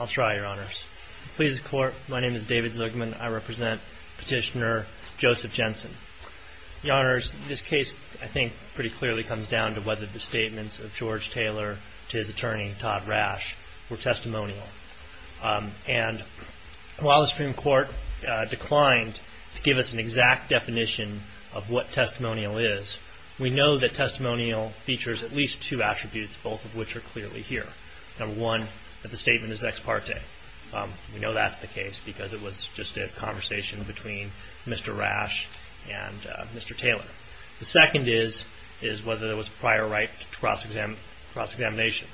I'll try, Your Honors. Please, the Court, my name is David Zugman. I represent Petitioner Joseph Jensen. Your Honors, this case, I think, pretty clearly comes down to whether the statements of George Taylor to his attorney, Todd Rash, were testimonial. And while the Supreme Court declined to give us an exact definition of what testimonial is, we know that testimonial features at least two attributes, both of which are clearly here. Number one, that the statement is ex parte. We know that's the case because it was just a conversation between Mr. Rash and Mr. Taylor. The second is whether there was a prior right to cross-examination.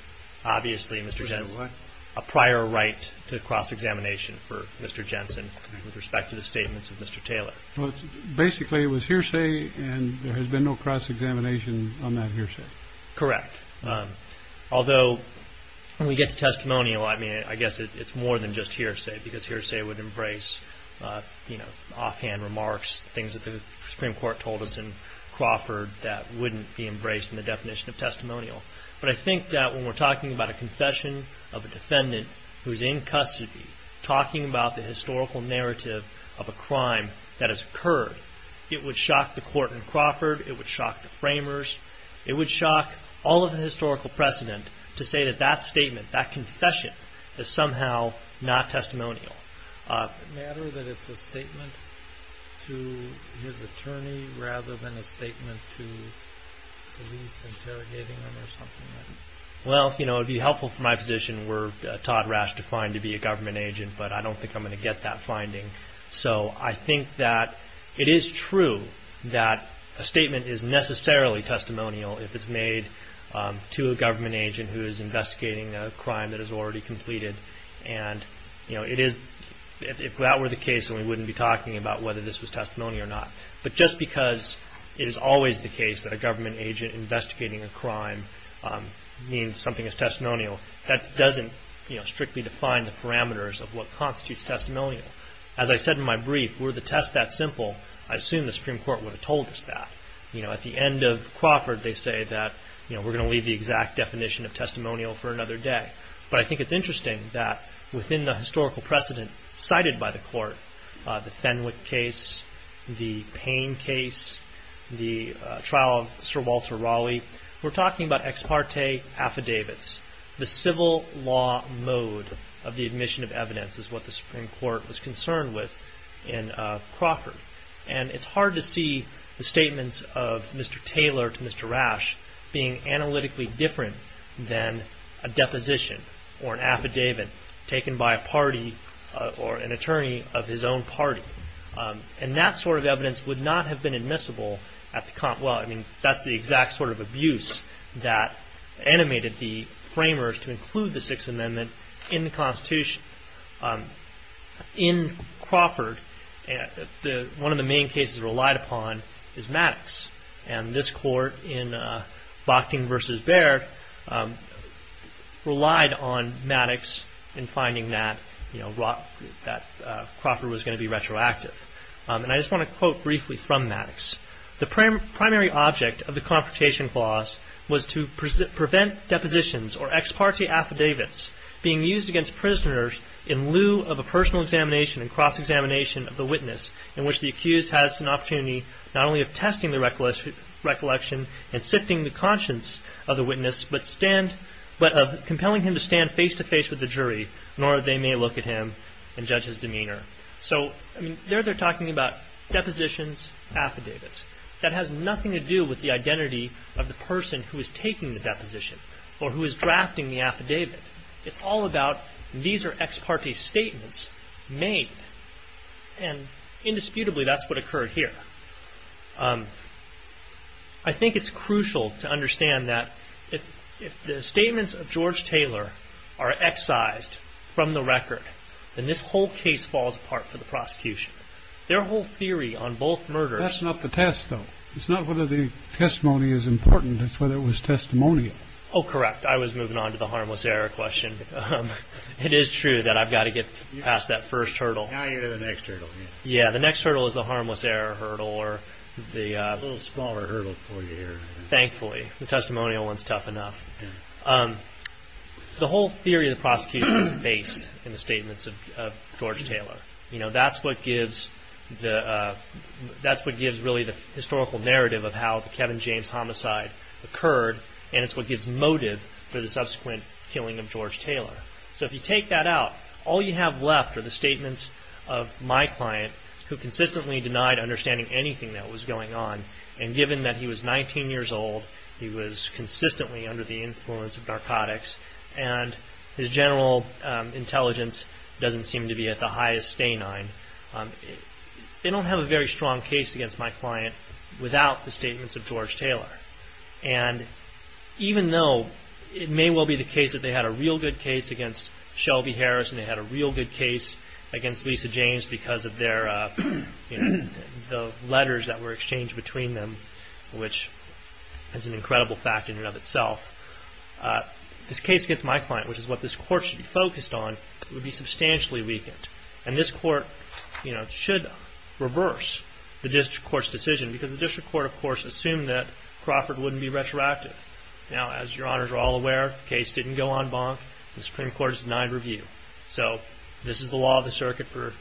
Obviously, Mr. Jensen, a prior right to cross-examination for Mr. Jensen with respect to the statements of Mr. Taylor. JENSEN Basically, it was hearsay and there has been no cross-examination on that hearsay. PLILER Correct. Although, when we get to testimonial, I mean, I guess it's more than just hearsay because hearsay would embrace, you know, offhand remarks, things that the Supreme Court told us in Crawford that wouldn't be embraced in the definition of testimonial. But I think that when we're talking about a confession of a defendant who is in custody, talking about the historical narrative of a crime that has occurred, it would shock the court in Crawford. It would shock the framers. It would shock all of the historical precedent to say that that statement, that confession, is somehow not testimonial. JENSEN Does it matter that it's a statement to his attorney rather than a statement to police interrogating him or something like that? PLILER Well, you know, it would be helpful for my position were Todd Rash defined to say, I don't think I'm going to get that finding. So, I think that it is true that a statement is necessarily testimonial if it's made to a government agent who is investigating a crime that is already completed. And, you know, if that were the case, then we wouldn't be talking about whether this was testimony or not. But just because it is always the case that a government agent investigating a crime means something is testimonial, that doesn't, you know, strictly define the parameters of what constitutes testimonial. As I said in my brief, were the test that simple, I assume the Supreme Court would have told us that. You know, at the end of Crawford, they say that, you know, we're going to leave the exact definition of testimonial for another day. But I think it's interesting that within the historical precedent cited by the court, the Fenwick case, the Payne case, the trial of Sir Walter Raleigh, we're talking about ex parte affidavits. The civil law mode of the admission of evidence is what the Supreme Court was concerned with in Crawford. And it's hard to see the statements of Mr. Taylor to Mr. Rash being analytically different than a deposition or an affidavit taken by a party or an attorney of his own party. And that sort of evidence would not have been admissible at the, well, I mean, that's the exact sort of abuse that animated the framers to include the Sixth Amendment in the Constitution. In Crawford, one of the main cases relied upon is Maddox. And this court in Bochting v. Baird relied on Maddox in finding that, you know, Crawford was going to be retroactive. And I just want to quote briefly from Maddox. The primary object of the Confrontation Clause was to prevent depositions or ex parte affidavits being used against prisoners in lieu of a personal examination and cross-examination of the witness in which the accused has an opportunity not only of testing the recollection and sifting the conscience of the witness, but of compelling him to stand face-to-face with the jury, nor they may look at him and say, depositions, affidavits. That has nothing to do with the identity of the person who is taking the deposition or who is drafting the affidavit. It's all about these are ex parte statements made. And indisputably, that's what occurred here. I think it's crucial to understand that if the statements of George Taylor are excised from the record, then this whole case falls apart for the prosecution. Their whole theory on both murders That's not the test, though. It's not whether the testimony is important. It's whether it was testimonial. Oh, correct. I was moving on to the harmless error question. It is true that I've got to get past that first hurdle. Now you're at the next hurdle. Yeah, the next hurdle is the harmless error hurdle or the A little smaller hurdle for you here. Thankfully, the testimonial one is tough enough. The whole theory of the prosecution is based in the statements of George Taylor. That's what gives really the historical narrative of how the Kevin James homicide occurred, and it's what gives motive for the subsequent killing of George Taylor. So if you take that out, all you have left are the statements of my client, who consistently denied understanding anything that was going on, and given that he was 19 years old, he was consistently under the influence of narcotics, and his general intelligence doesn't seem to be at the highest stagnant, they don't have a very strong case against my client without the statements of George Taylor. And even though it may well be the case that they had a real good case against Shelby Harris and they had a real good case against Lisa James because of the letters that were exchanged between them, which is an incredible fact in and of itself, this case against my client, which is what this court should be focused on, would be substantially weakened. And this court should reverse the district court's decision because the district court, of course, assumed that Crawford wouldn't be retroactive. Now, as your honors are all aware, the case didn't go en banc. The Supreme Court has denied review. So this is the law of the circuit for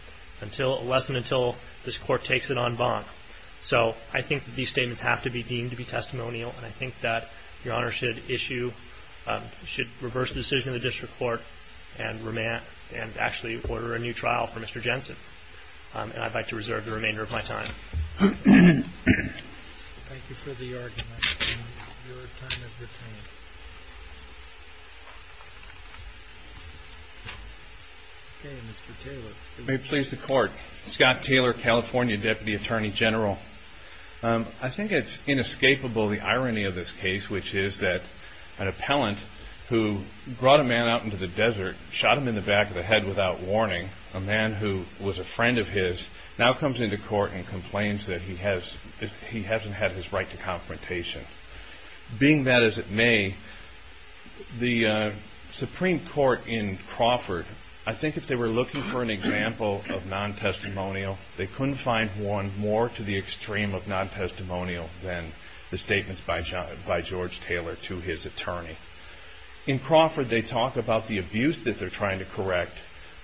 less than until this court takes it en banc. So I think these statements have to be deemed to be testimonial, and I think that your honors should issue, should reverse the decision of the district court and actually order a new trial for Mr. Jensen. And I'd like to reserve the remainder of my time. Thank you for the argument. Your time has retained. May it please the court. Scott Taylor, California Deputy Attorney General. I think it's inescapable the irony of this case, which is that an appellant who brought a man out into the desert, shot him in the back of the head without warning, a man who was a friend of his, now comes into court and complains that he hasn't had his right to confrontation. Being that as it may, the Supreme Court in Crawford, I think if they were looking for an example of non-testimonial, they couldn't find one more to the extreme of non-testimonial than the statements by George Taylor to his attorney. In Crawford, they talk about the abuse that they're trying to correct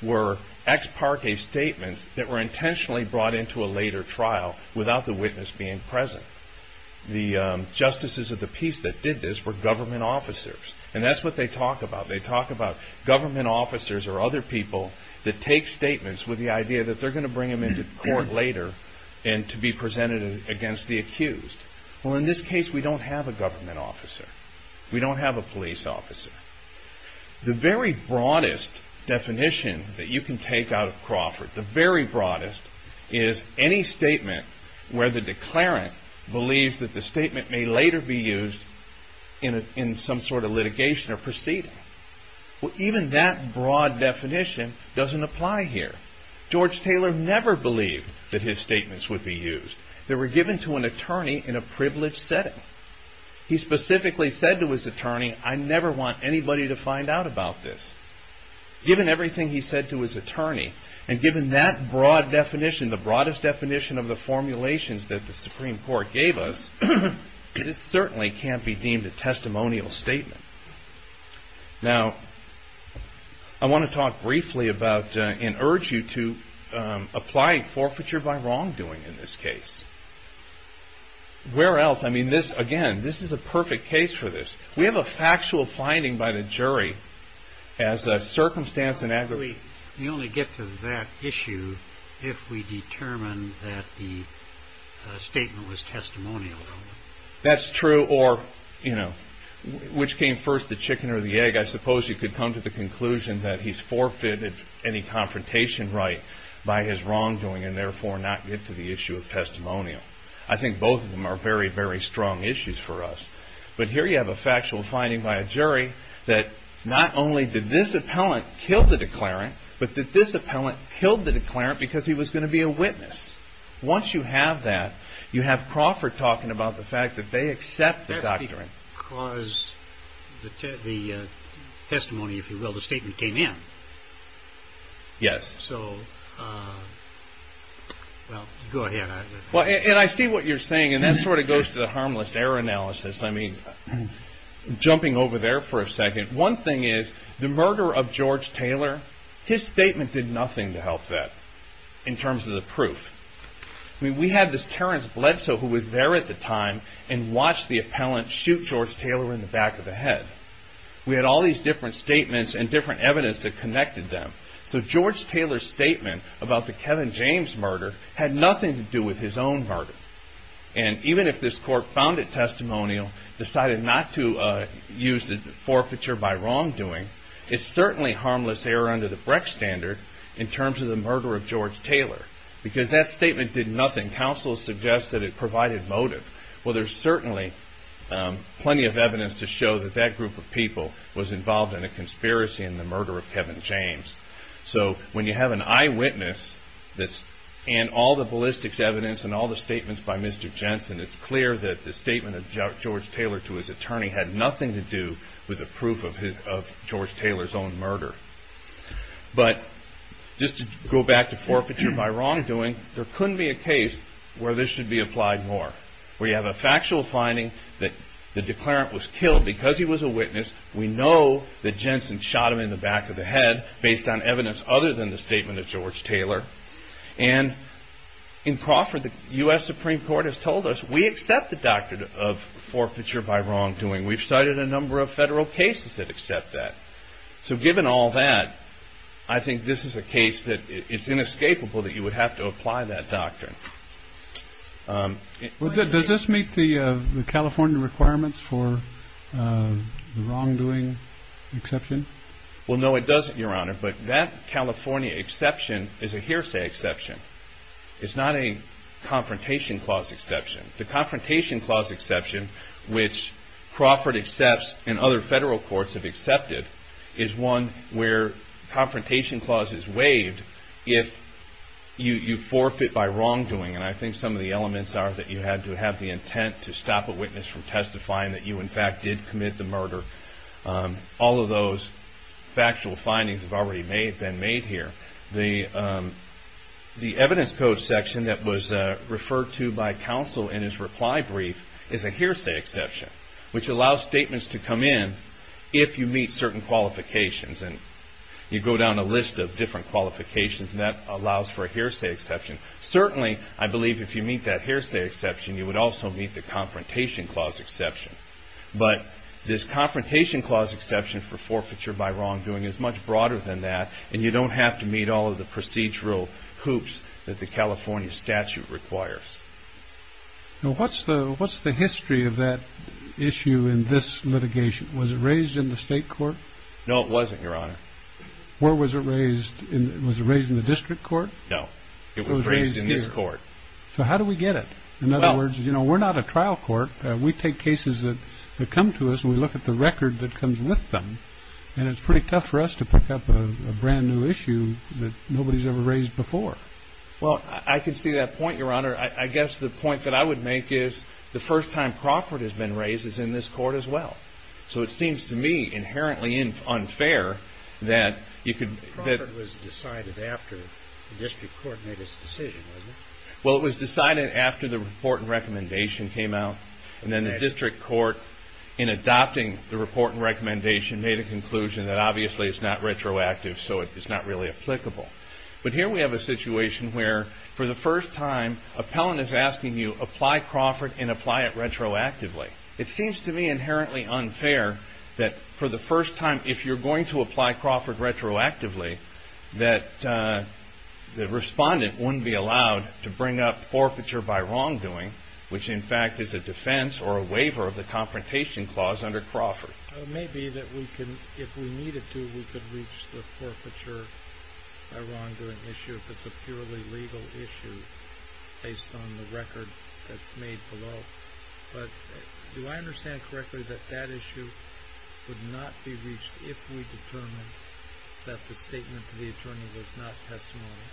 were ex parque statements that were intentionally brought into a later trial without the witness being present. The justices of the peace that did this were government officers. That's what they talk about. They talk about government officers or other people that take statements with the idea that they're going to bring them into court later and to be presented against the accused. In this case, we don't have a government officer. We don't have a police officer. The very broadest definition that you can take out of Crawford, the very broadest, is any statement where the declarant believes that the statement may later be used in some sort of litigation or proceeding. Even that broad definition doesn't apply here. George Taylor never believed that his statements would be used. They were given to an attorney in a privileged setting. He specifically said to his attorney, I never want anybody to find out about this. Given everything he said to his attorney and given that broad definition, the broadest definition of the formulations that the Supreme Court gave us, this certainly can't be deemed a testimonial statement. Now, I want to talk briefly about and urge you to apply forfeiture by wrongdoing in this case. Where else? I mean, this, again, this is a perfect case for this. We have a factual finding by the jury as a circumstance in aggregate. We only get to that issue if we determine that the statement was testimonial. That's true, or, you know, which came first, the chicken or the egg? I suppose you could come to the conclusion that he's forfeited any confrontation right by his wrongdoing and therefore not get to the issue of testimonial. I think both of them are very, very strong issues for us. But here you have a factual finding by a jury that not only did this appellant kill the declarant, but that this appellant killed the declarant because he was going to be a witness. Once you have that, you have Crawford talking about the fact that they accept the doctrine. That's because the testimony, if you will, the statement, came in. Yes. So, well, go ahead. Well, and I see what you're saying, and that sort of goes to the harmless error analysis. I mean, jumping over there for a second, one thing is the murder of George Taylor, his statement did nothing to help that in terms of the proof. We had this Terence Bledsoe who was there at the time and watched the appellant shoot George Taylor in the back of the head. We had all these different statements and different evidence that connected them. So George Taylor's statement about the Kevin James murder had nothing to do with his own murder. And even if this court found it testimonial, decided not to use the forfeiture by wrongdoing, it's certainly harmless error under the Brecht standard in terms of the murder of George Taylor, because that statement did nothing. Counsel suggests that it provided motive. Well, there's certainly plenty of evidence to show that that group of people was involved in a conspiracy in the murder of Kevin James. So when you have an eyewitness and all the ballistics evidence and all the statements by Mr. Jensen, it's clear that the statement of George Taylor to his attorney had nothing to do with a proof of George Taylor's own murder. But just to go back to forfeiture by wrongdoing, there couldn't be a case where this should be applied more. We have a factual finding that the declarant was killed because he was a witness. We know that Jensen shot him in the back of the head based on evidence other than the statement of George Taylor. And in Crawford, the U.S. Supreme Court has told us we accept the doctrine of forfeiture by wrongdoing. We've cited a number of federal cases that accept that. So given all that, I think this is a case that it's inescapable that you would have to apply that doctrine. Well, does this meet the California requirements for the wrongdoing exception? Well, no, it doesn't, Your Honor. But that California exception is a hearsay exception. It's not a confrontation clause exception. The confrontation clause exception, which Crawford accepts and other federal courts have accepted, is one where confrontation clause is waived if you forfeit by wrongdoing. And I think some of the elements are that you had to have the intent to stop a witness from testifying that you, in fact, did commit the murder. All of those factual findings have already been made here. The evidence code section that was referred to by counsel in his reply brief is a hearsay exception, which allows statements to come in if you meet certain qualifications. And you go down a list of different qualifications, and that allows for a hearsay exception. Certainly, I believe if you meet that hearsay exception, you would also meet the confrontation clause exception. But this confrontation clause exception for forfeiture by wrongdoing is much broader than that, and you don't have to meet all of the procedural hoops that the California statute requires. Now, what's the history of that issue in this litigation? Was it raised in the state court? No, it wasn't, Your Honor. Was it raised in the district court? No, it was raised in this court. So how do we get it? In other words, we're not a trial court. We take cases that come to us and we look at the record that comes with them, and it's pretty tough for us to pick up a brand new issue that nobody's ever raised before. Well, I can see that point, Your Honor. I guess the point that I would make is the first time Crawford has been raised is in this court as well. So it seems to me inherently unfair that you could... Crawford was decided after the district court made its decision, wasn't it? Well, it was decided after the report and recommendation came out, and then the district court, in adopting the report and recommendation, made a conclusion that obviously it's not retroactive, so it's not really applicable. But here we have a situation where for the It seems to me inherently unfair that for the first time, if you're going to apply Crawford retroactively, that the respondent wouldn't be allowed to bring up forfeiture by wrongdoing, which in fact is a defense or a waiver of the Confrontation Clause under Crawford. It may be that we can, if we needed to, we could reach the forfeiture by wrongdoing issue if it's a purely legal issue based on the record that's made below. But do I understand correctly that that issue would not be reached if we determined that the statement to the attorney was not testimony?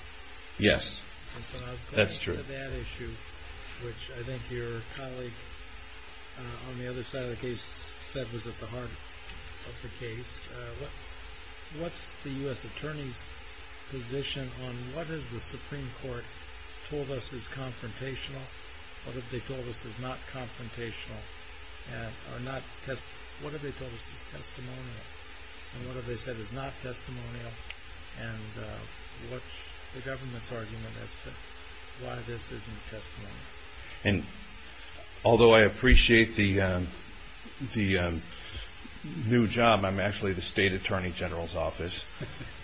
Yes, that's true. And so I've got to get to that issue, which I think your colleague on the other side of the heart of the case. What's the U.S. Attorney's position on what has the Supreme Court told us is confrontational, what have they told us is not confrontational, or what have they told us is testimonial, and what have they said is not testimonial, and what's the government's argument as to why this isn't testimonial? And although I appreciate the new job, I'm actually the State Attorney General's office.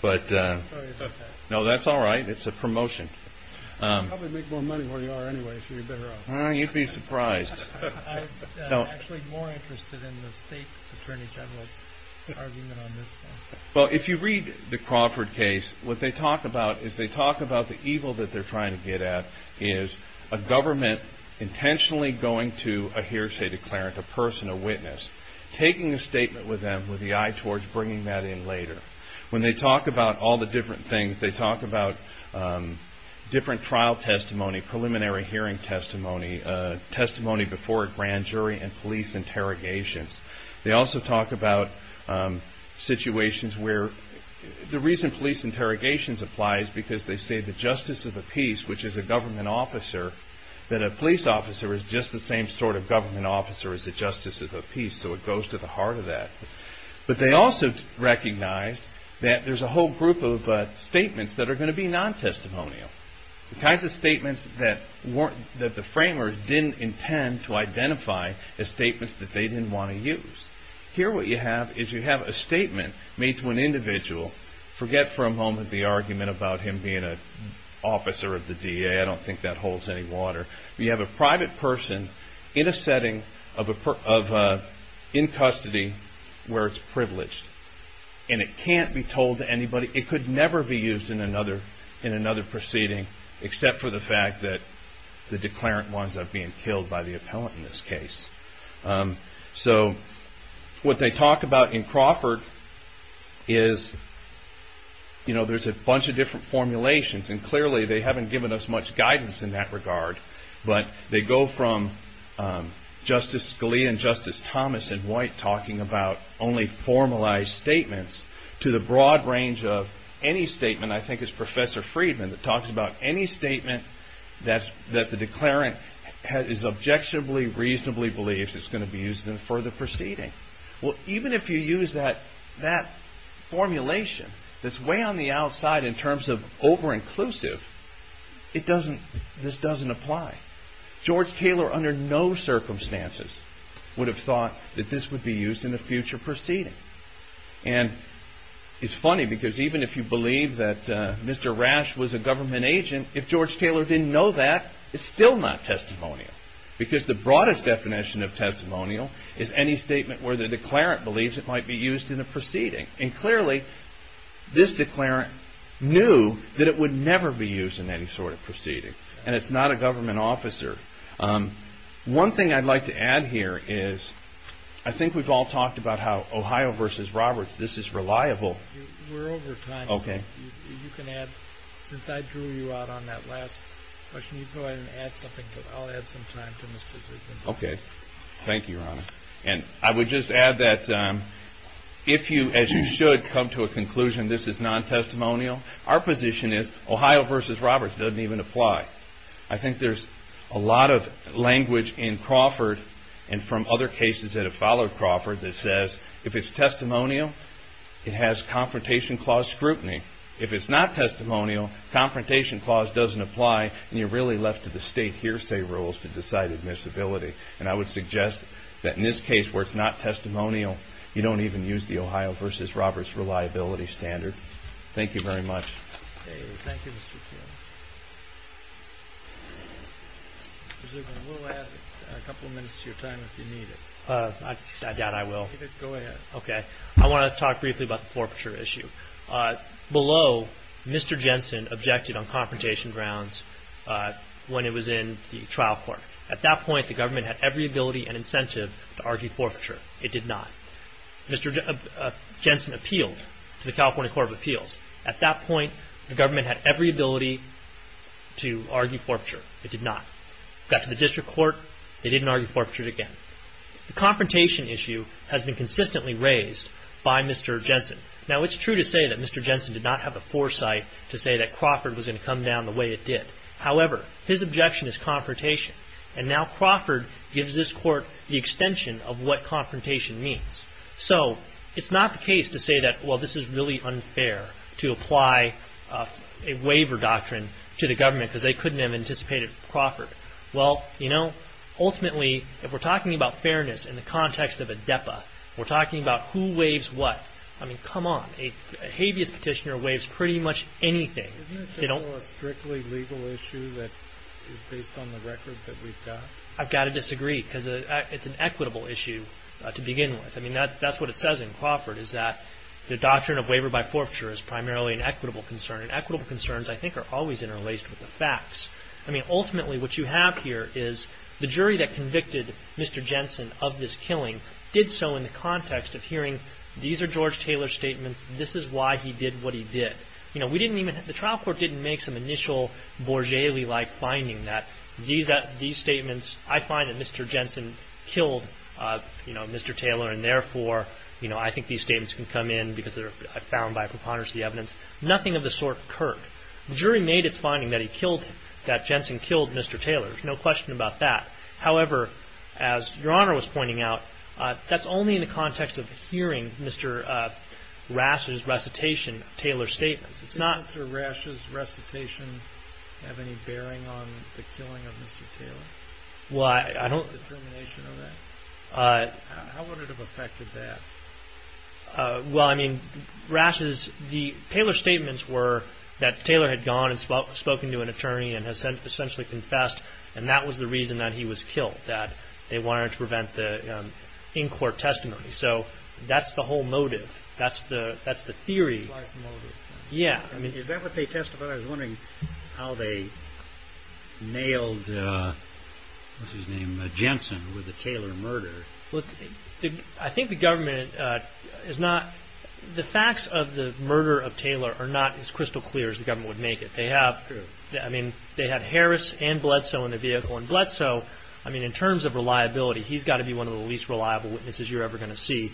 I'm sorry about that. No, that's all right. It's a promotion. You'd probably make more money where you are anyway if you were better off. You'd be surprised. I'm actually more interested in the State Attorney General's argument on this one. Well, if you read the Crawford case, what they talk about is they talk about the evil that they're trying to get at is a government intentionally going to a hearsay declarant, a person, a witness, taking a statement with them with the eye towards bringing that in later. When they talk about all the different things, they talk about different trial testimony, preliminary hearing testimony, testimony before a grand jury, and police interrogations. They also talk about situations where the reason police interrogations applies is because they say the justice of the peace, which is a government officer, that a police officer is just the same sort of government officer as the justice of the peace, so it goes to the heart of that. But they also recognize that there's a whole group of statements that are going to be non-testimonial, the kinds of statements that the framers didn't intend to identify as statements that they didn't want to use. Here what you have is you have a statement made to an individual. Forget for a moment the argument about him being an officer of the DEA. I don't think that holds any water. You have a private person in a setting in custody where it's privileged, and it can't be told to anybody. It could never be used in another proceeding, except for the fact that the declarant winds up being killed by the appellant in this case. So what they talk about in Crawford is there's a bunch of different formulations, and clearly they haven't given us much guidance in that regard. But they go from Justice Scalia and Justice Thomas and White talking about only formalized statements to the broad range of any statement, I think it's Professor Friedman, that talks about any statement that the declarant is objectionably, reasonably believes is going to be used in a further proceeding. Well, even if you use that formulation that's way on the outside in terms of over-inclusive, this doesn't apply. George Taylor under no circumstances would have thought that this would be used in a future proceeding. And it's funny because even if you believe that Mr. Rash was a government agent, if George Taylor didn't know that, it's still not testimonial. Because the broadest definition of testimonial is any statement where the declarant believes it might be used in a proceeding. And clearly this declarant knew that it would never be used in any sort of proceeding, and it's not a government officer. One thing I'd like to add here is I think we've all talked about how Ohio v. Roberts, this is reliable. We're over time. Okay. You can add, since I drew you out on that last question, you can go ahead and add something. I'll add some time to Mr. Friedman. Okay. Thank you, Your Honor. And I would just add that if you, as you should, come to a conclusion this is non-testimonial, our position is Ohio v. Roberts doesn't even apply. I think there's a lot of language in Crawford and from other cases that have followed Crawford that says if it's testimonial, it has confrontation clause scrutiny. If it's not testimonial, confrontation clause doesn't apply, and you're really left to the state hearsay rules to decide admissibility. And I would suggest that in this case where it's not testimonial, you don't even use the Ohio v. Roberts reliability standard. Thank you very much. Okay. Thank you, Mr. Chairman. Mr. Friedman, we'll add a couple of minutes to your time if you need it. I doubt I will. Go ahead. Okay. I want to talk briefly about the forfeiture issue. Below, Mr. Jensen objected on confrontation grounds when he was in the trial court. At that point, the government had every ability and incentive to argue forfeiture. It did not. Mr. Jensen appealed to the California Court of Appeals. At that point, the government had every ability to argue forfeiture. It did not. Got to the district court. They didn't argue forfeiture again. The confrontation issue has been consistently raised by Mr. Jensen. Now, it's true to say that Mr. Jensen did not have the foresight to say that Crawford was going to come down the way it did. However, his objection is confrontation, and now Crawford gives this court the extension of what confrontation means. So, it's not the case to say that, well, this is really unfair to apply a waiver doctrine to the government because they couldn't have anticipated Crawford. Well, you know, ultimately, if we're talking about fairness in the context of a DEPA, we're talking about who waives what. I mean, come on. A habeas petitioner waives pretty much anything. Isn't it just a strictly legal issue that is based on the record that we've got? I've got to disagree because it's an equitable issue to begin with. I mean, that's what it says in Crawford is that the doctrine of waiver by forfeiture is primarily an equitable concern, and equitable concerns, I think, are always interlaced with the facts. I mean, ultimately, what you have here is the jury that convicted Mr. Jensen of this killing did so in the context of hearing these are George Taylor's statements. This is why he did what he did. You know, we didn't even – the trial court didn't make some initial Borgeli-like finding that these statements – you know, I find that Mr. Jensen killed, you know, Mr. Taylor, and therefore, you know, I think these statements can come in because they're found by a preponderancy evidence. Nothing of the sort occurred. The jury made its finding that he killed him, that Jensen killed Mr. Taylor. There's no question about that. However, as Your Honor was pointing out, that's only in the context of hearing Mr. Rasch's recitation of Taylor's statements. It's not – Did Mr. Rasch's recitation have any bearing on the killing of Mr. Taylor? Well, I don't – The termination of that? How would it have affected that? Well, I mean, Rasch's – Taylor's statements were that Taylor had gone and spoken to an attorney and has essentially confessed, and that was the reason that he was killed, that they wanted to prevent the in-court testimony. So that's the whole motive. That's the theory. That's the motive. Yeah. Is that what they testified? But I was wondering how they nailed – what's his name – Jensen with the Taylor murder. I think the government is not – the facts of the murder of Taylor are not as crystal clear as the government would make it. They have – I mean, they had Harris and Bledsoe in the vehicle, and Bledsoe, I mean, in terms of reliability, he's got to be one of the least reliable witnesses you're ever going to see.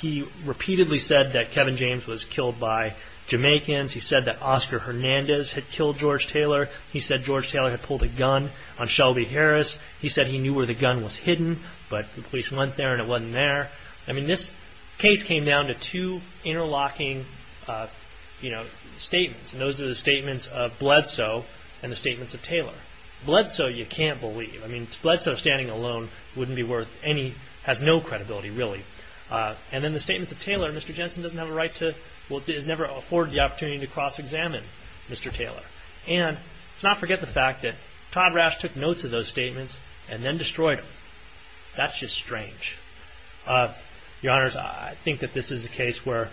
He repeatedly said that Kevin James was killed by Jamaicans. He said that Oscar Hernandez had killed George Taylor. He said George Taylor had pulled a gun on Shelby Harris. He said he knew where the gun was hidden, but the police went there and it wasn't there. I mean, this case came down to two interlocking statements, and those are the statements of Bledsoe and the statements of Taylor. Bledsoe you can't believe. I mean, Bledsoe standing alone wouldn't be worth any – has no credibility, really. And then the statements of Taylor, Mr. Jensen doesn't have a right to – has never afforded the opportunity to cross-examine Mr. Taylor. And let's not forget the fact that Todd Rash took notes of those statements and then destroyed them. That's just strange. Your Honors, I think that this is a case where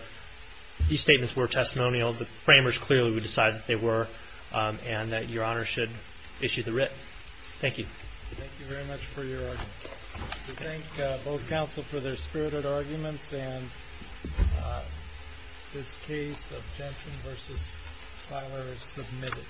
these statements were testimonial. The framers clearly would decide that they were and that Your Honor should issue the writ. Thank you. Thank you very much for your argument. We thank both counsel for their spirited arguments and this case of Jensen v. Taylor is submitted.